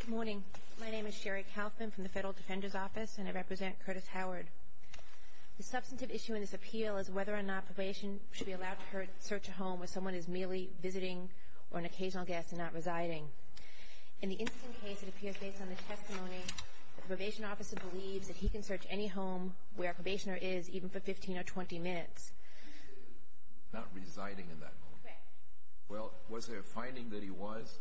Good morning. My name is Sherry Kaufman from the Federal Defender's Office and I represent Curtis Howard. The substantive issue in this appeal is whether or not probation should be allowed to search a home where someone is merely visiting or an occasional guest and not residing. In the incident case, it appears based on the testimony that the probation officer believes that he can search any home where a probationer is even for 15 or 20 minutes. Not residing in that home? Correct. Well, was there a finding that he was?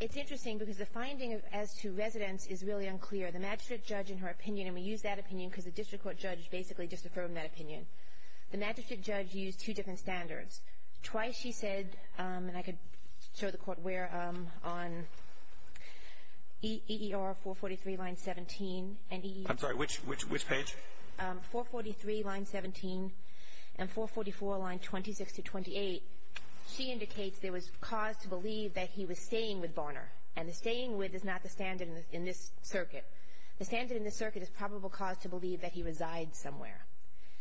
It's interesting because the finding as to residence is really unclear. The magistrate judge in her opinion, and we use that opinion because the district court judge basically just affirmed that opinion. The magistrate judge used two different standards. Twice she said, and I could show the court where on EER 443, line 17. I'm sorry, which page? 443, line 17, and 444, line 26-28. She indicates there was cause to believe that he was staying with Varner, and the staying with is not the standard in this circuit. The standard in this circuit is probable cause to believe that he resides somewhere.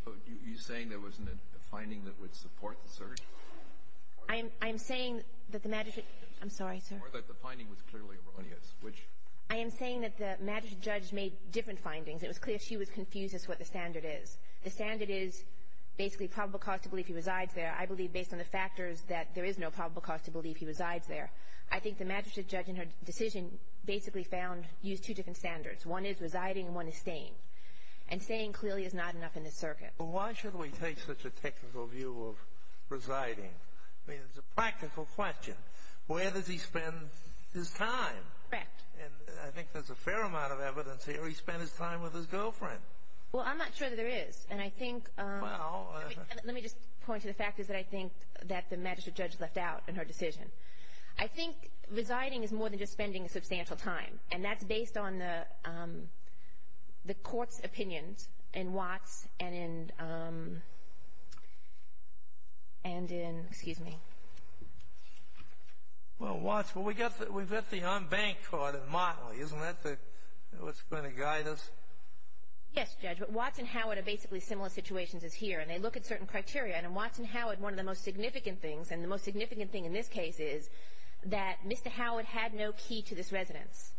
Are you saying there wasn't a finding that would support the search? I am saying that the magistrate – I'm sorry, sir. Or that the finding was clearly erroneous, which – I am saying that the magistrate judge made different findings. It was clear she was confused as to what the standard is. The standard is basically probable cause to believe he resides there. I believe based on the factors that there is no probable cause to believe he resides there. I think the magistrate judge in her decision basically found – used two different standards. One is residing and one is staying. And staying clearly is not enough in this circuit. Well, why should we take such a technical view of residing? I mean, it's a practical question. Where does he spend his time? Correct. And I think there's a fair amount of evidence here. He spent his time with his girlfriend. Well, I'm not sure that there is. And I think – Well – Let me just point to the factors that I think that the magistrate judge left out in her decision. I think residing is more than just spending a substantial time. And that's based on the court's opinions in Watts and in – and in – excuse me. Well, Watts – well, we've got the unbanked court in Motley. Isn't that what's going to guide us? Yes, Judge. But Watts and Howard are basically similar situations as here. And they look at certain criteria. And in Watts and Howard, one of the most significant things – and the most significant thing in this case is that Mr. Howard had no key to this residence.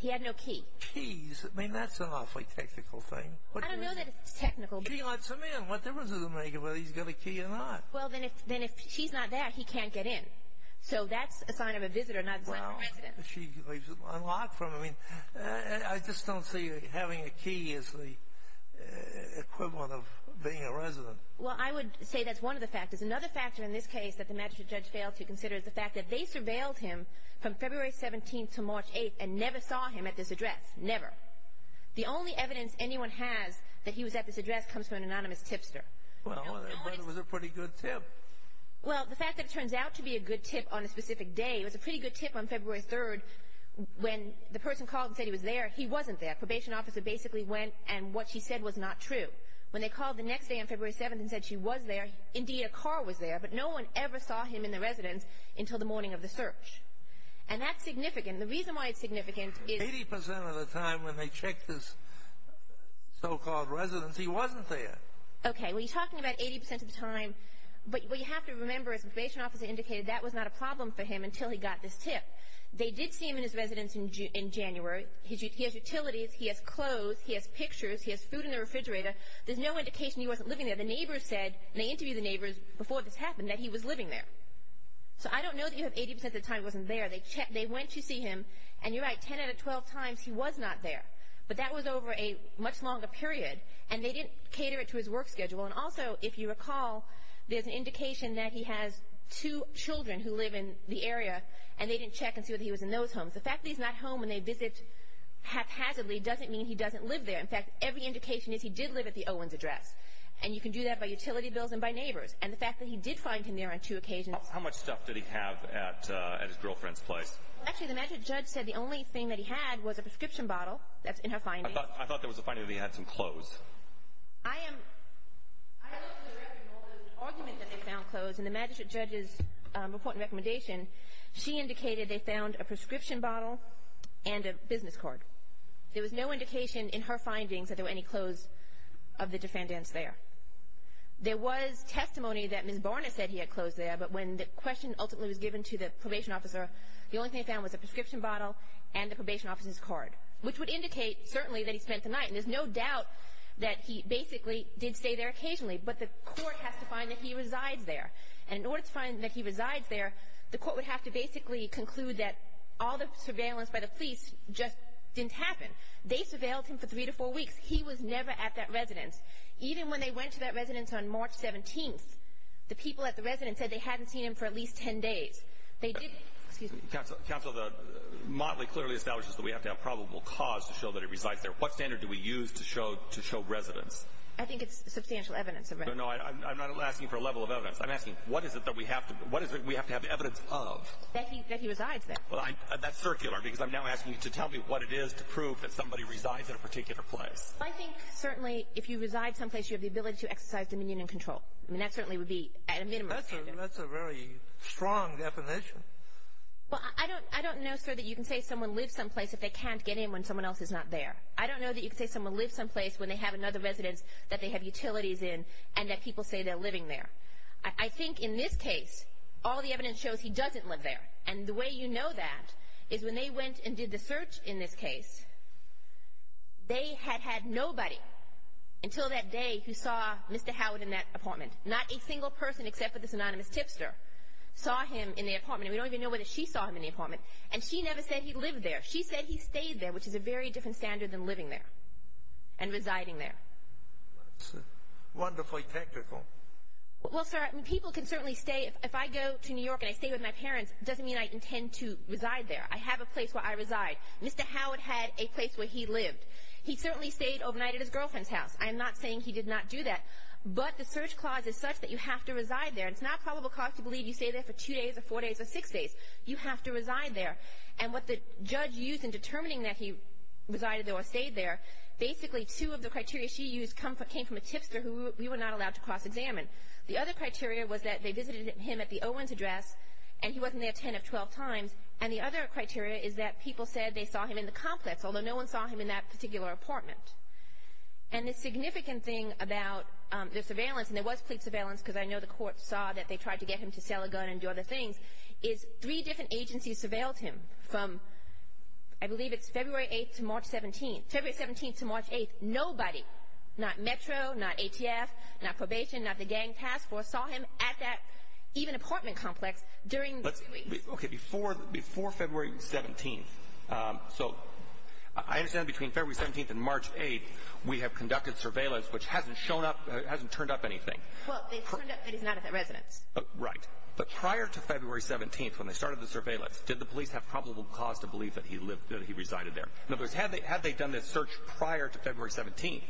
He had no key. Keys? I mean, that's an awfully technical thing. I don't know that it's technical. He lets him in. What difference does it make whether he's got a key or not? Well, then if she's not there, he can't get in. So that's a sign of a visitor, not a sign of a resident. Well, she leaves it unlocked for him. I mean, I just don't see having a key as the equivalent of being a resident. Well, I would say that's one of the factors. Another factor in this case that the magistrate judge failed to consider is the fact that they surveilled him from February 17th to March 8th and never saw him at this address. Never. The only evidence anyone has that he was at this address comes from an anonymous tipster. Well, it was a pretty good tip. Well, the fact that it turns out to be a good tip on a specific day, it was a pretty good tip on February 3rd when the person called and said he was there. He wasn't there. Probation officer basically went and what she said was not true. When they called the next day on February 7th and said she was there, indeed a car was there, but no one ever saw him in the residence until the morning of the search. And that's significant. The reason why it's significant is 80% of the time when they checked his so-called residence, he wasn't there. Okay, well, you're talking about 80% of the time, but what you have to remember is the probation officer indicated that was not a problem for him until he got this tip. They did see him in his residence in January. He has utilities. He has clothes. He has pictures. He has food in the refrigerator. There's no indication he wasn't living there. The neighbors said, and they interviewed the neighbors before this happened, that he was living there. So I don't know that you have 80% of the time he wasn't there. They went to see him, and you're right, 10 out of 12 times he was not there. But that was over a much longer period, and they didn't cater it to his work schedule. And also, if you recall, there's an indication that he has two children who live in the area, and they didn't check and see whether he was in those homes. The fact that he's not home when they visit haphazardly doesn't mean he doesn't live there. In fact, every indication is he did live at the Owens address. And you can do that by utility bills and by neighbors. And the fact that he did find him there on two occasions. How much stuff did he have at his girlfriend's place? Actually, the magistrate judge said the only thing that he had was a prescription bottle. That's in her findings. I thought there was a finding that he had some clothes. I am—I looked at the record, and all the arguments that they found clothes, and the magistrate judge's report and recommendation, she indicated they found a prescription bottle and a business card. There was no indication in her findings that there were any clothes of the defendants there. There was testimony that Ms. Barnett said he had clothes there, but when the question ultimately was given to the probation officer, the only thing they found was a prescription bottle and the probation officer's card, which would indicate certainly that he spent the night. And there's no doubt that he basically did stay there occasionally, but the court has to find that he resides there. And in order to find that he resides there, the court would have to basically conclude that all the surveillance by the police just didn't happen. They surveilled him for three to four weeks. He was never at that residence. Even when they went to that residence on March 17th, the people at the residence said they hadn't seen him for at least 10 days. They did— Excuse me. Counsel, the motley clearly establishes that we have to have probable cause to show that he resides there. What standard do we use to show residence? I think it's substantial evidence. No, no. I'm not asking for a level of evidence. I'm asking, what is it that we have to have evidence of? That he resides there. That's circular, because I'm now asking you to tell me what it is to prove that somebody resides in a particular place. I think certainly if you reside someplace, you have the ability to exercise dominion and control. I mean, that certainly would be at a minimum standard. That's a very strong definition. Well, I don't know, sir, that you can say someone lives someplace if they can't get in when someone else is not there. I don't know that you can say someone lives someplace when they have another residence that they have utilities in and that people say they're living there. I think in this case, all the evidence shows he doesn't live there. And the way you know that is when they went and did the search in this case, they had had nobody until that day who saw Mr. Howard in that apartment. Not a single person except for this anonymous tipster saw him in the apartment. And we don't even know whether she saw him in the apartment. And she never said he lived there. She said he stayed there, which is a very different standard than living there and residing there. That's wonderfully technical. Well, sir, people can certainly stay. If I go to New York and I stay with my parents, it doesn't mean I intend to reside there. I have a place where I reside. Mr. Howard had a place where he lived. He certainly stayed overnight at his girlfriend's house. I am not saying he did not do that. But the search clause is such that you have to reside there. It's not probable cause to believe you stayed there for two days or four days or six days. You have to reside there. And what the judge used in determining that he resided there or stayed there, basically two of the criteria she used came from a tipster who we were not allowed to cross-examine. The other criteria was that they visited him at the Owens address, and he wasn't there 10 of 12 times. And the other criteria is that people said they saw him in the complex, although no one saw him in that particular apartment. And the significant thing about the surveillance, and there was police surveillance because I know the court saw that they tried to get him to sell a gun and do other things, is three different agencies surveilled him from, I believe it's February 8th to March 17th. February 17th to March 8th, nobody, not Metro, not ATF, not probation, not the gang task force, saw him at that even apartment complex during the three weeks. Okay, before February 17th. So I understand between February 17th and March 8th we have conducted surveillance, which hasn't shown up, hasn't turned up anything. Well, it turned up that he's not at that residence. Right. But prior to February 17th when they started the surveillance, did the police have probable cause to believe that he resided there? In other words, had they done this search prior to February 17th,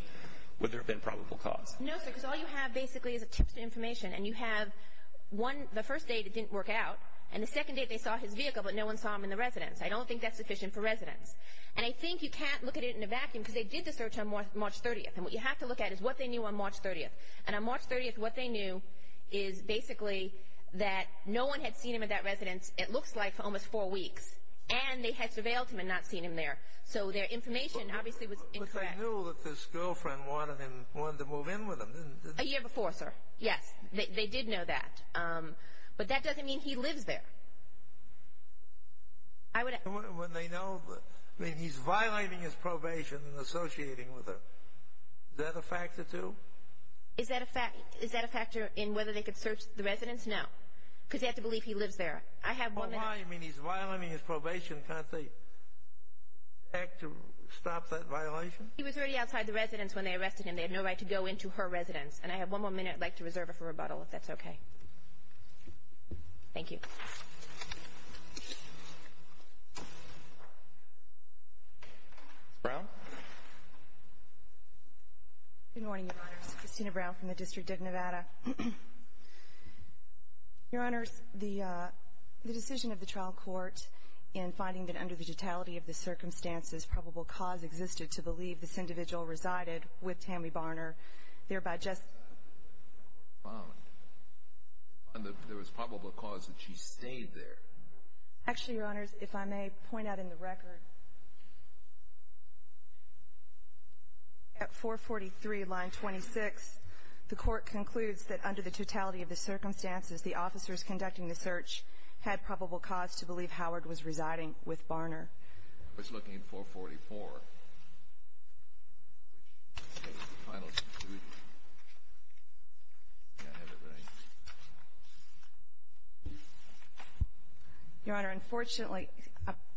would there have been probable cause? No, sir, because all you have basically is a tipster information, and you have the first date it didn't work out, and the second date they saw his vehicle, but no one saw him in the residence. I don't think that's sufficient for residence. And I think you can't look at it in a vacuum because they did the search on March 30th, and what you have to look at is what they knew on March 30th. And on March 30th what they knew is basically that no one had seen him at that residence, it looks like, for almost four weeks, and they had surveilled him and not seen him there. So their information obviously was incorrect. But they knew that his girlfriend wanted him, wanted to move in with him, didn't they? A year before, sir, yes. They did know that. But that doesn't mean he lives there. When they know, I mean, he's violating his probation and associating with her. Is that a factor too? Is that a factor in whether they could search the residence? No, because they have to believe he lives there. Well, why? I mean, he's violating his probation. Can't they act to stop that violation? He was already outside the residence when they arrested him. They had no right to go into her residence. And I have one more minute. I'd like to reserve it for rebuttal, if that's okay. Thank you. Ms. Brown? Good morning, Your Honors. Christina Brown from the District of Nevada. Your Honors, the decision of the trial court in finding that under the totality of the circumstances probable cause existed to believe this individual resided with Tammy Barner, thereby justifying that the court found that there was probable cause that she stayed there. Actually, Your Honors, if I may point out in the record, at 443, line 26, the court concludes that under the totality of the circumstances, the officers conducting the search had probable cause to believe Howard was residing with Barner. I was looking at 444, which is the final conclusion. I can't have it right. Your Honor, unfortunately,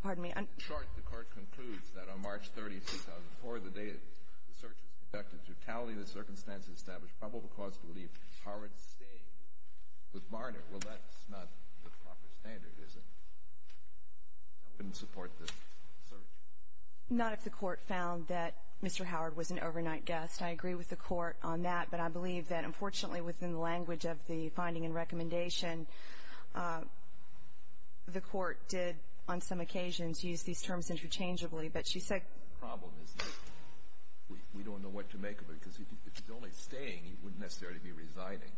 pardon me. In short, the court concludes that on March 30, 2004, the day the search was conducted, the totality of the circumstances established probable cause to believe Howard's staying with Barner. Well, that's not the proper standard, is it? I wouldn't support the search. Not if the court found that Mr. Howard was an overnight guest. I agree with the court on that, but I believe that, unfortunately, within the language of the finding and recommendation, the court did on some occasions use these terms interchangeably. But she said the problem is that we don't know what to make of it, because if he's only staying, he wouldn't necessarily be residing.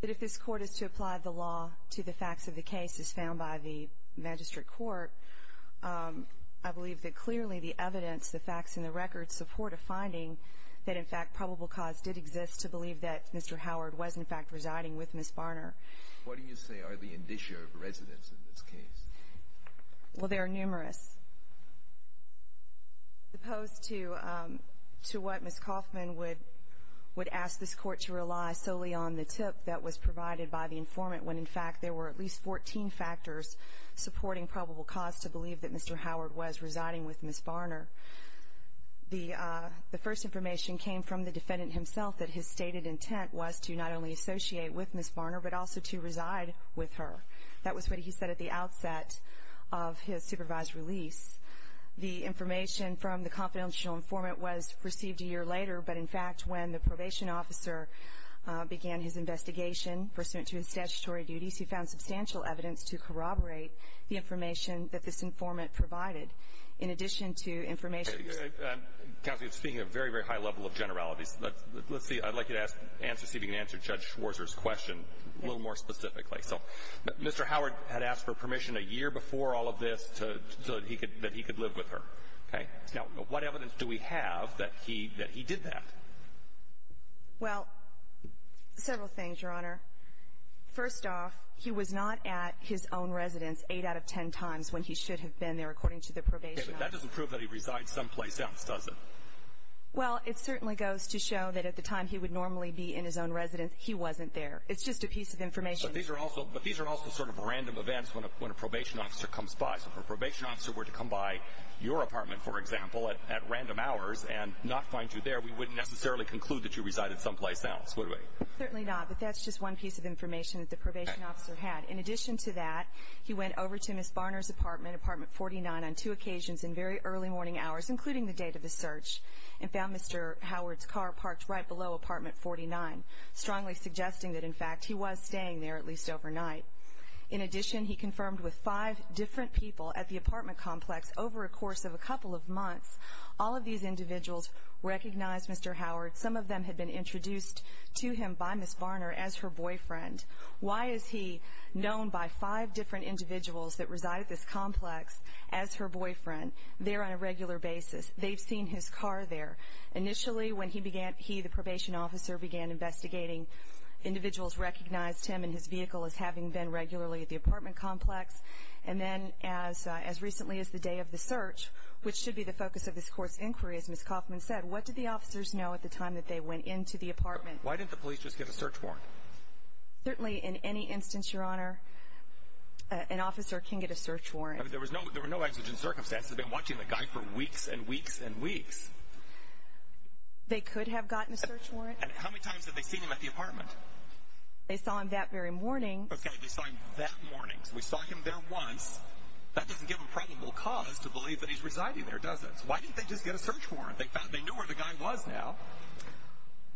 But if this court is to apply the law to the facts of the case as found by the magistrate court, I believe that clearly the evidence, the facts, and the records support a finding that, in fact, probable cause did exist to believe that Mr. Howard was, in fact, residing with Ms. Barner. What do you say are the indicia of residence in this case? Well, there are numerous. As opposed to what Ms. Kaufman would ask this court to rely solely on, the tip that was provided by the informant, when, in fact, there were at least 14 factors supporting probable cause to believe that Mr. Howard was residing with Ms. Barner. The first information came from the defendant himself, that his stated intent was to not only associate with Ms. Barner, but also to reside with her. That was what he said at the outset of his supervised release. The information from the confidential informant was received a year later, but, in fact, when the probation officer began his investigation pursuant to his statutory duties, he found substantial evidence to corroborate the information that this informant provided. In addition to information... Counsel, you're speaking at a very, very high level of generalities. Let's see. I'd like you to answer, see if you can answer Judge Schwarzer's question a little more specifically. So Mr. Howard had asked for permission a year before all of this so that he could live with her, okay? Now, what evidence do we have that he did that? Well, several things, Your Honor. First off, he was not at his own residence eight out of ten times when he should have been there, according to the probation officer. Okay, but that doesn't prove that he resides someplace else, does it? Well, it certainly goes to show that at the time he would normally be in his own residence, he wasn't there. It's just a piece of information. But these are also sort of random events when a probation officer comes by. So if a probation officer were to come by your apartment, for example, at random hours and not find you there, we wouldn't necessarily conclude that you resided someplace else, would we? Certainly not. But that's just one piece of information that the probation officer had. In addition to that, he went over to Ms. Barner's apartment, apartment 49, on two occasions in very early morning hours, including the date of the search, and found Mr. Howard's car parked right below apartment 49, strongly suggesting that, in fact, he was staying there at least overnight. In addition, he confirmed with five different people at the apartment complex over a course of a couple of months, all of these individuals recognized Mr. Howard. Some of them had been introduced to him by Ms. Barner as her boyfriend. Why is he known by five different individuals that reside at this complex as her boyfriend there on a regular basis? They've seen his car there. Initially, when he began, he, the probation officer, began investigating, individuals recognized him and his vehicle as having been regularly at the apartment complex. And then as recently as the day of the search, which should be the focus of this court's inquiry, as Ms. Kauffman said, what did the officers know at the time that they went into the apartment? Why didn't the police just get a search warrant? Certainly in any instance, Your Honor, an officer can get a search warrant. There were no exigent circumstances. They've been watching the guy for weeks and weeks and weeks. They could have gotten a search warrant. And how many times have they seen him at the apartment? They saw him that very morning. Okay, they saw him that morning. So we saw him there once. That doesn't give them probable cause to believe that he's residing there, does it? Why didn't they just get a search warrant? They knew where the guy was now.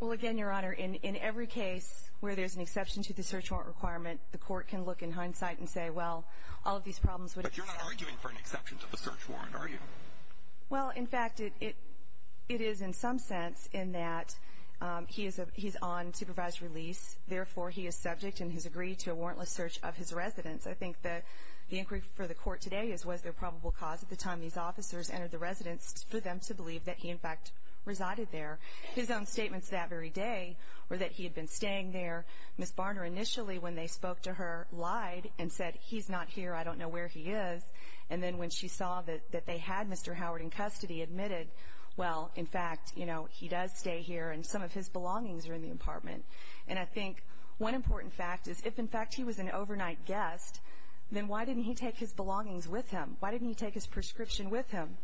Well, again, Your Honor, in every case where there's an exception to the search warrant requirement, the court can look in hindsight and say, well, all of these problems would have been solved. But you're not arguing for an exception to the search warrant, are you? Well, in fact, it is in some sense in that he's on supervised release. Therefore, he is subject in his agree to a warrantless search of his residence. I think the inquiry for the court today is was there probable cause at the time these officers entered the residence for them to believe that he, in fact, resided there. His own statements that very day were that he had been staying there. Ms. Barner initially, when they spoke to her, lied and said, he's not here, I don't know where he is. And then when she saw that they had Mr. Howard in custody, admitted, well, in fact, you know, he does stay here and some of his belongings are in the apartment. And I think one important fact is if, in fact, he was an overnight guest, then why didn't he take his belongings with him? Why didn't he take his prescription with him?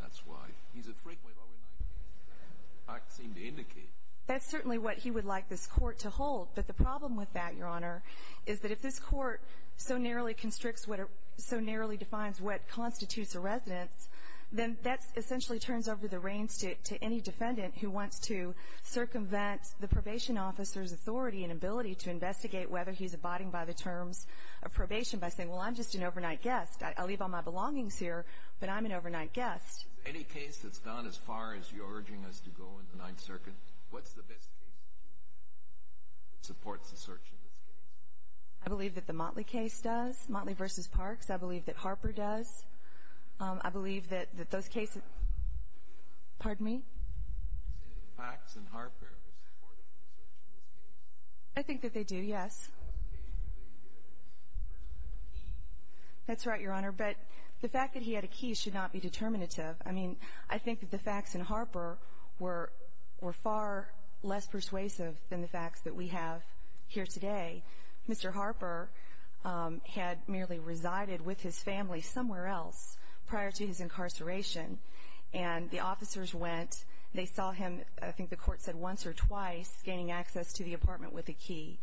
That's right. He's a frequent overnight guest. I seem to indicate. That's certainly what he would like this Court to hold. But the problem with that, Your Honor, is that if this Court so narrowly constricts what it so narrowly defines what constitutes a residence, then that essentially turns over the reins to any defendant who wants to circumvent the probation officer's authority and ability to investigate whether he's abiding by the terms of probation by saying, well, I'm just an overnight guest. I leave all my belongings here, but I'm an overnight guest. Is there any case that's gone as far as you're urging us to go in the Ninth Circuit? What's the best case that supports the search in this case? I believe that the Motley case does, Motley v. Parks. I believe that Harper does. I believe that those cases – pardon me? Is there any facts in Harper that support the search in this case? I think that they do, yes. How is the case related to the person who had a key? That's right, Your Honor. But the fact that he had a key should not be determinative. I mean, I think that the facts in Harper were far less persuasive than the facts that we have here today. Mr. Harper had merely resided with his family somewhere else prior to his incarceration. And the officers went. They saw him, I think the Court said once or twice, gaining access to the apartment with a key.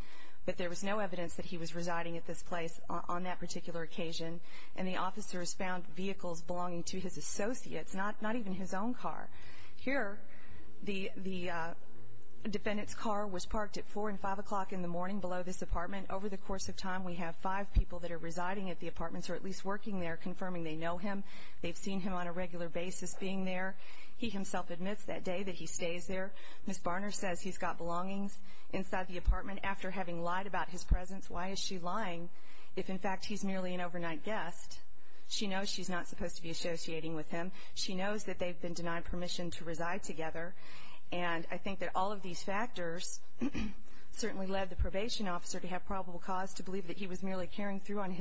But there was no evidence that he was residing at this place on that particular occasion. And the officers found vehicles belonging to his associates, not even his own car. Here, the defendant's car was parked at 4 and 5 o'clock in the morning below this apartment. Over the course of time, we have five people that are residing at the apartments or at least working there confirming they know him. They've seen him on a regular basis being there. He himself admits that day that he stays there. Ms. Barner says he's got belongings inside the apartment after having lied about his presence. Why is she lying if, in fact, he's merely an overnight guest? She knows she's not supposed to be associating with him. She knows that they've been denied permission to reside together. And I think that all of these factors certainly led the probation officer to have probable cause to believe that he was merely carrying through on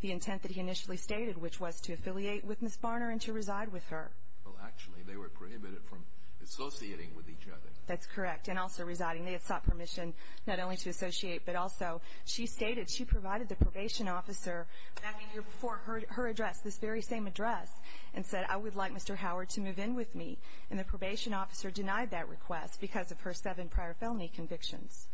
the intent that he initially stated, which was to affiliate with Ms. Barner and to reside with her. Well, actually, they were prohibited from associating with each other. That's correct, and also residing. They had sought permission not only to associate, but also she stated she provided the probation officer back a year before her address, this very same address, and said, I would like Mr. Howard to move in with me. And the probation officer denied that request because of her seven prior felony convictions.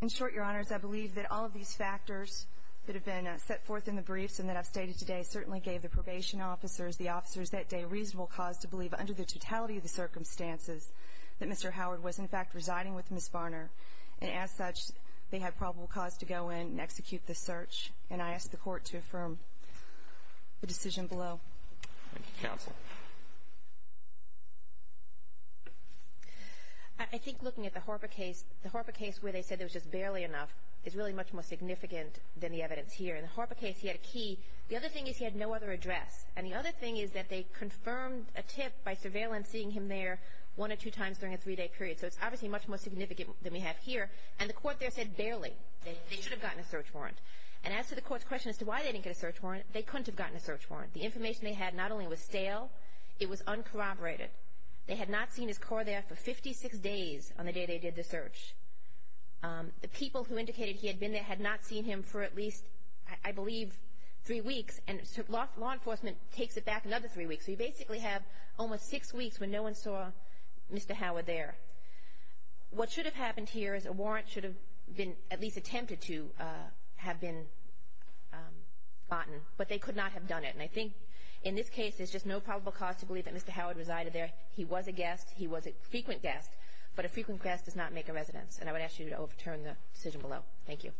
In short, Your Honors, I believe that all of these factors that have been set forth in the briefs and that I've stated today certainly gave the probation officers, the officers that day, reasonable cause to believe, under the totality of the circumstances, that Mr. Howard was, in fact, residing with Ms. Barner. And as such, they had probable cause to go in and execute the search. And I ask the Court to affirm the decision below. Thank you, Counsel. I think looking at the Horba case, the Horba case where they said there was just barely enough is really much more significant than the evidence here. In the Horba case, he had a key. The other thing is he had no other address. And the other thing is that they confirmed a tip by surveillancing him there one or two times during a three-day period. So it's obviously much more significant than we have here. And the Court there said barely. They should have gotten a search warrant. And as to the Court's question as to why they didn't get a search warrant, they couldn't have gotten a search warrant. The information they had not only was stale, it was uncorroborated. They had not seen his car there for 56 days on the day they did the search. The people who indicated he had been there had not seen him for at least, I believe, three weeks. And law enforcement takes it back another three weeks. So you basically have almost six weeks when no one saw Mr. Howard there. What should have happened here is a warrant should have been at least attempted to have been gotten, but they could not have done it. And I think in this case there's just no probable cause to believe that Mr. Howard resided there. He was a guest. He was a frequent guest, but a frequent guest does not make a residence. And I would ask you to overturn the decision below. Thank you.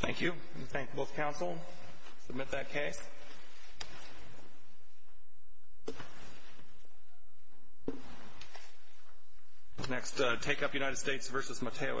Thank you. Thank both counsel. Submit that case. Next, take up United States v. Mateo Estrada.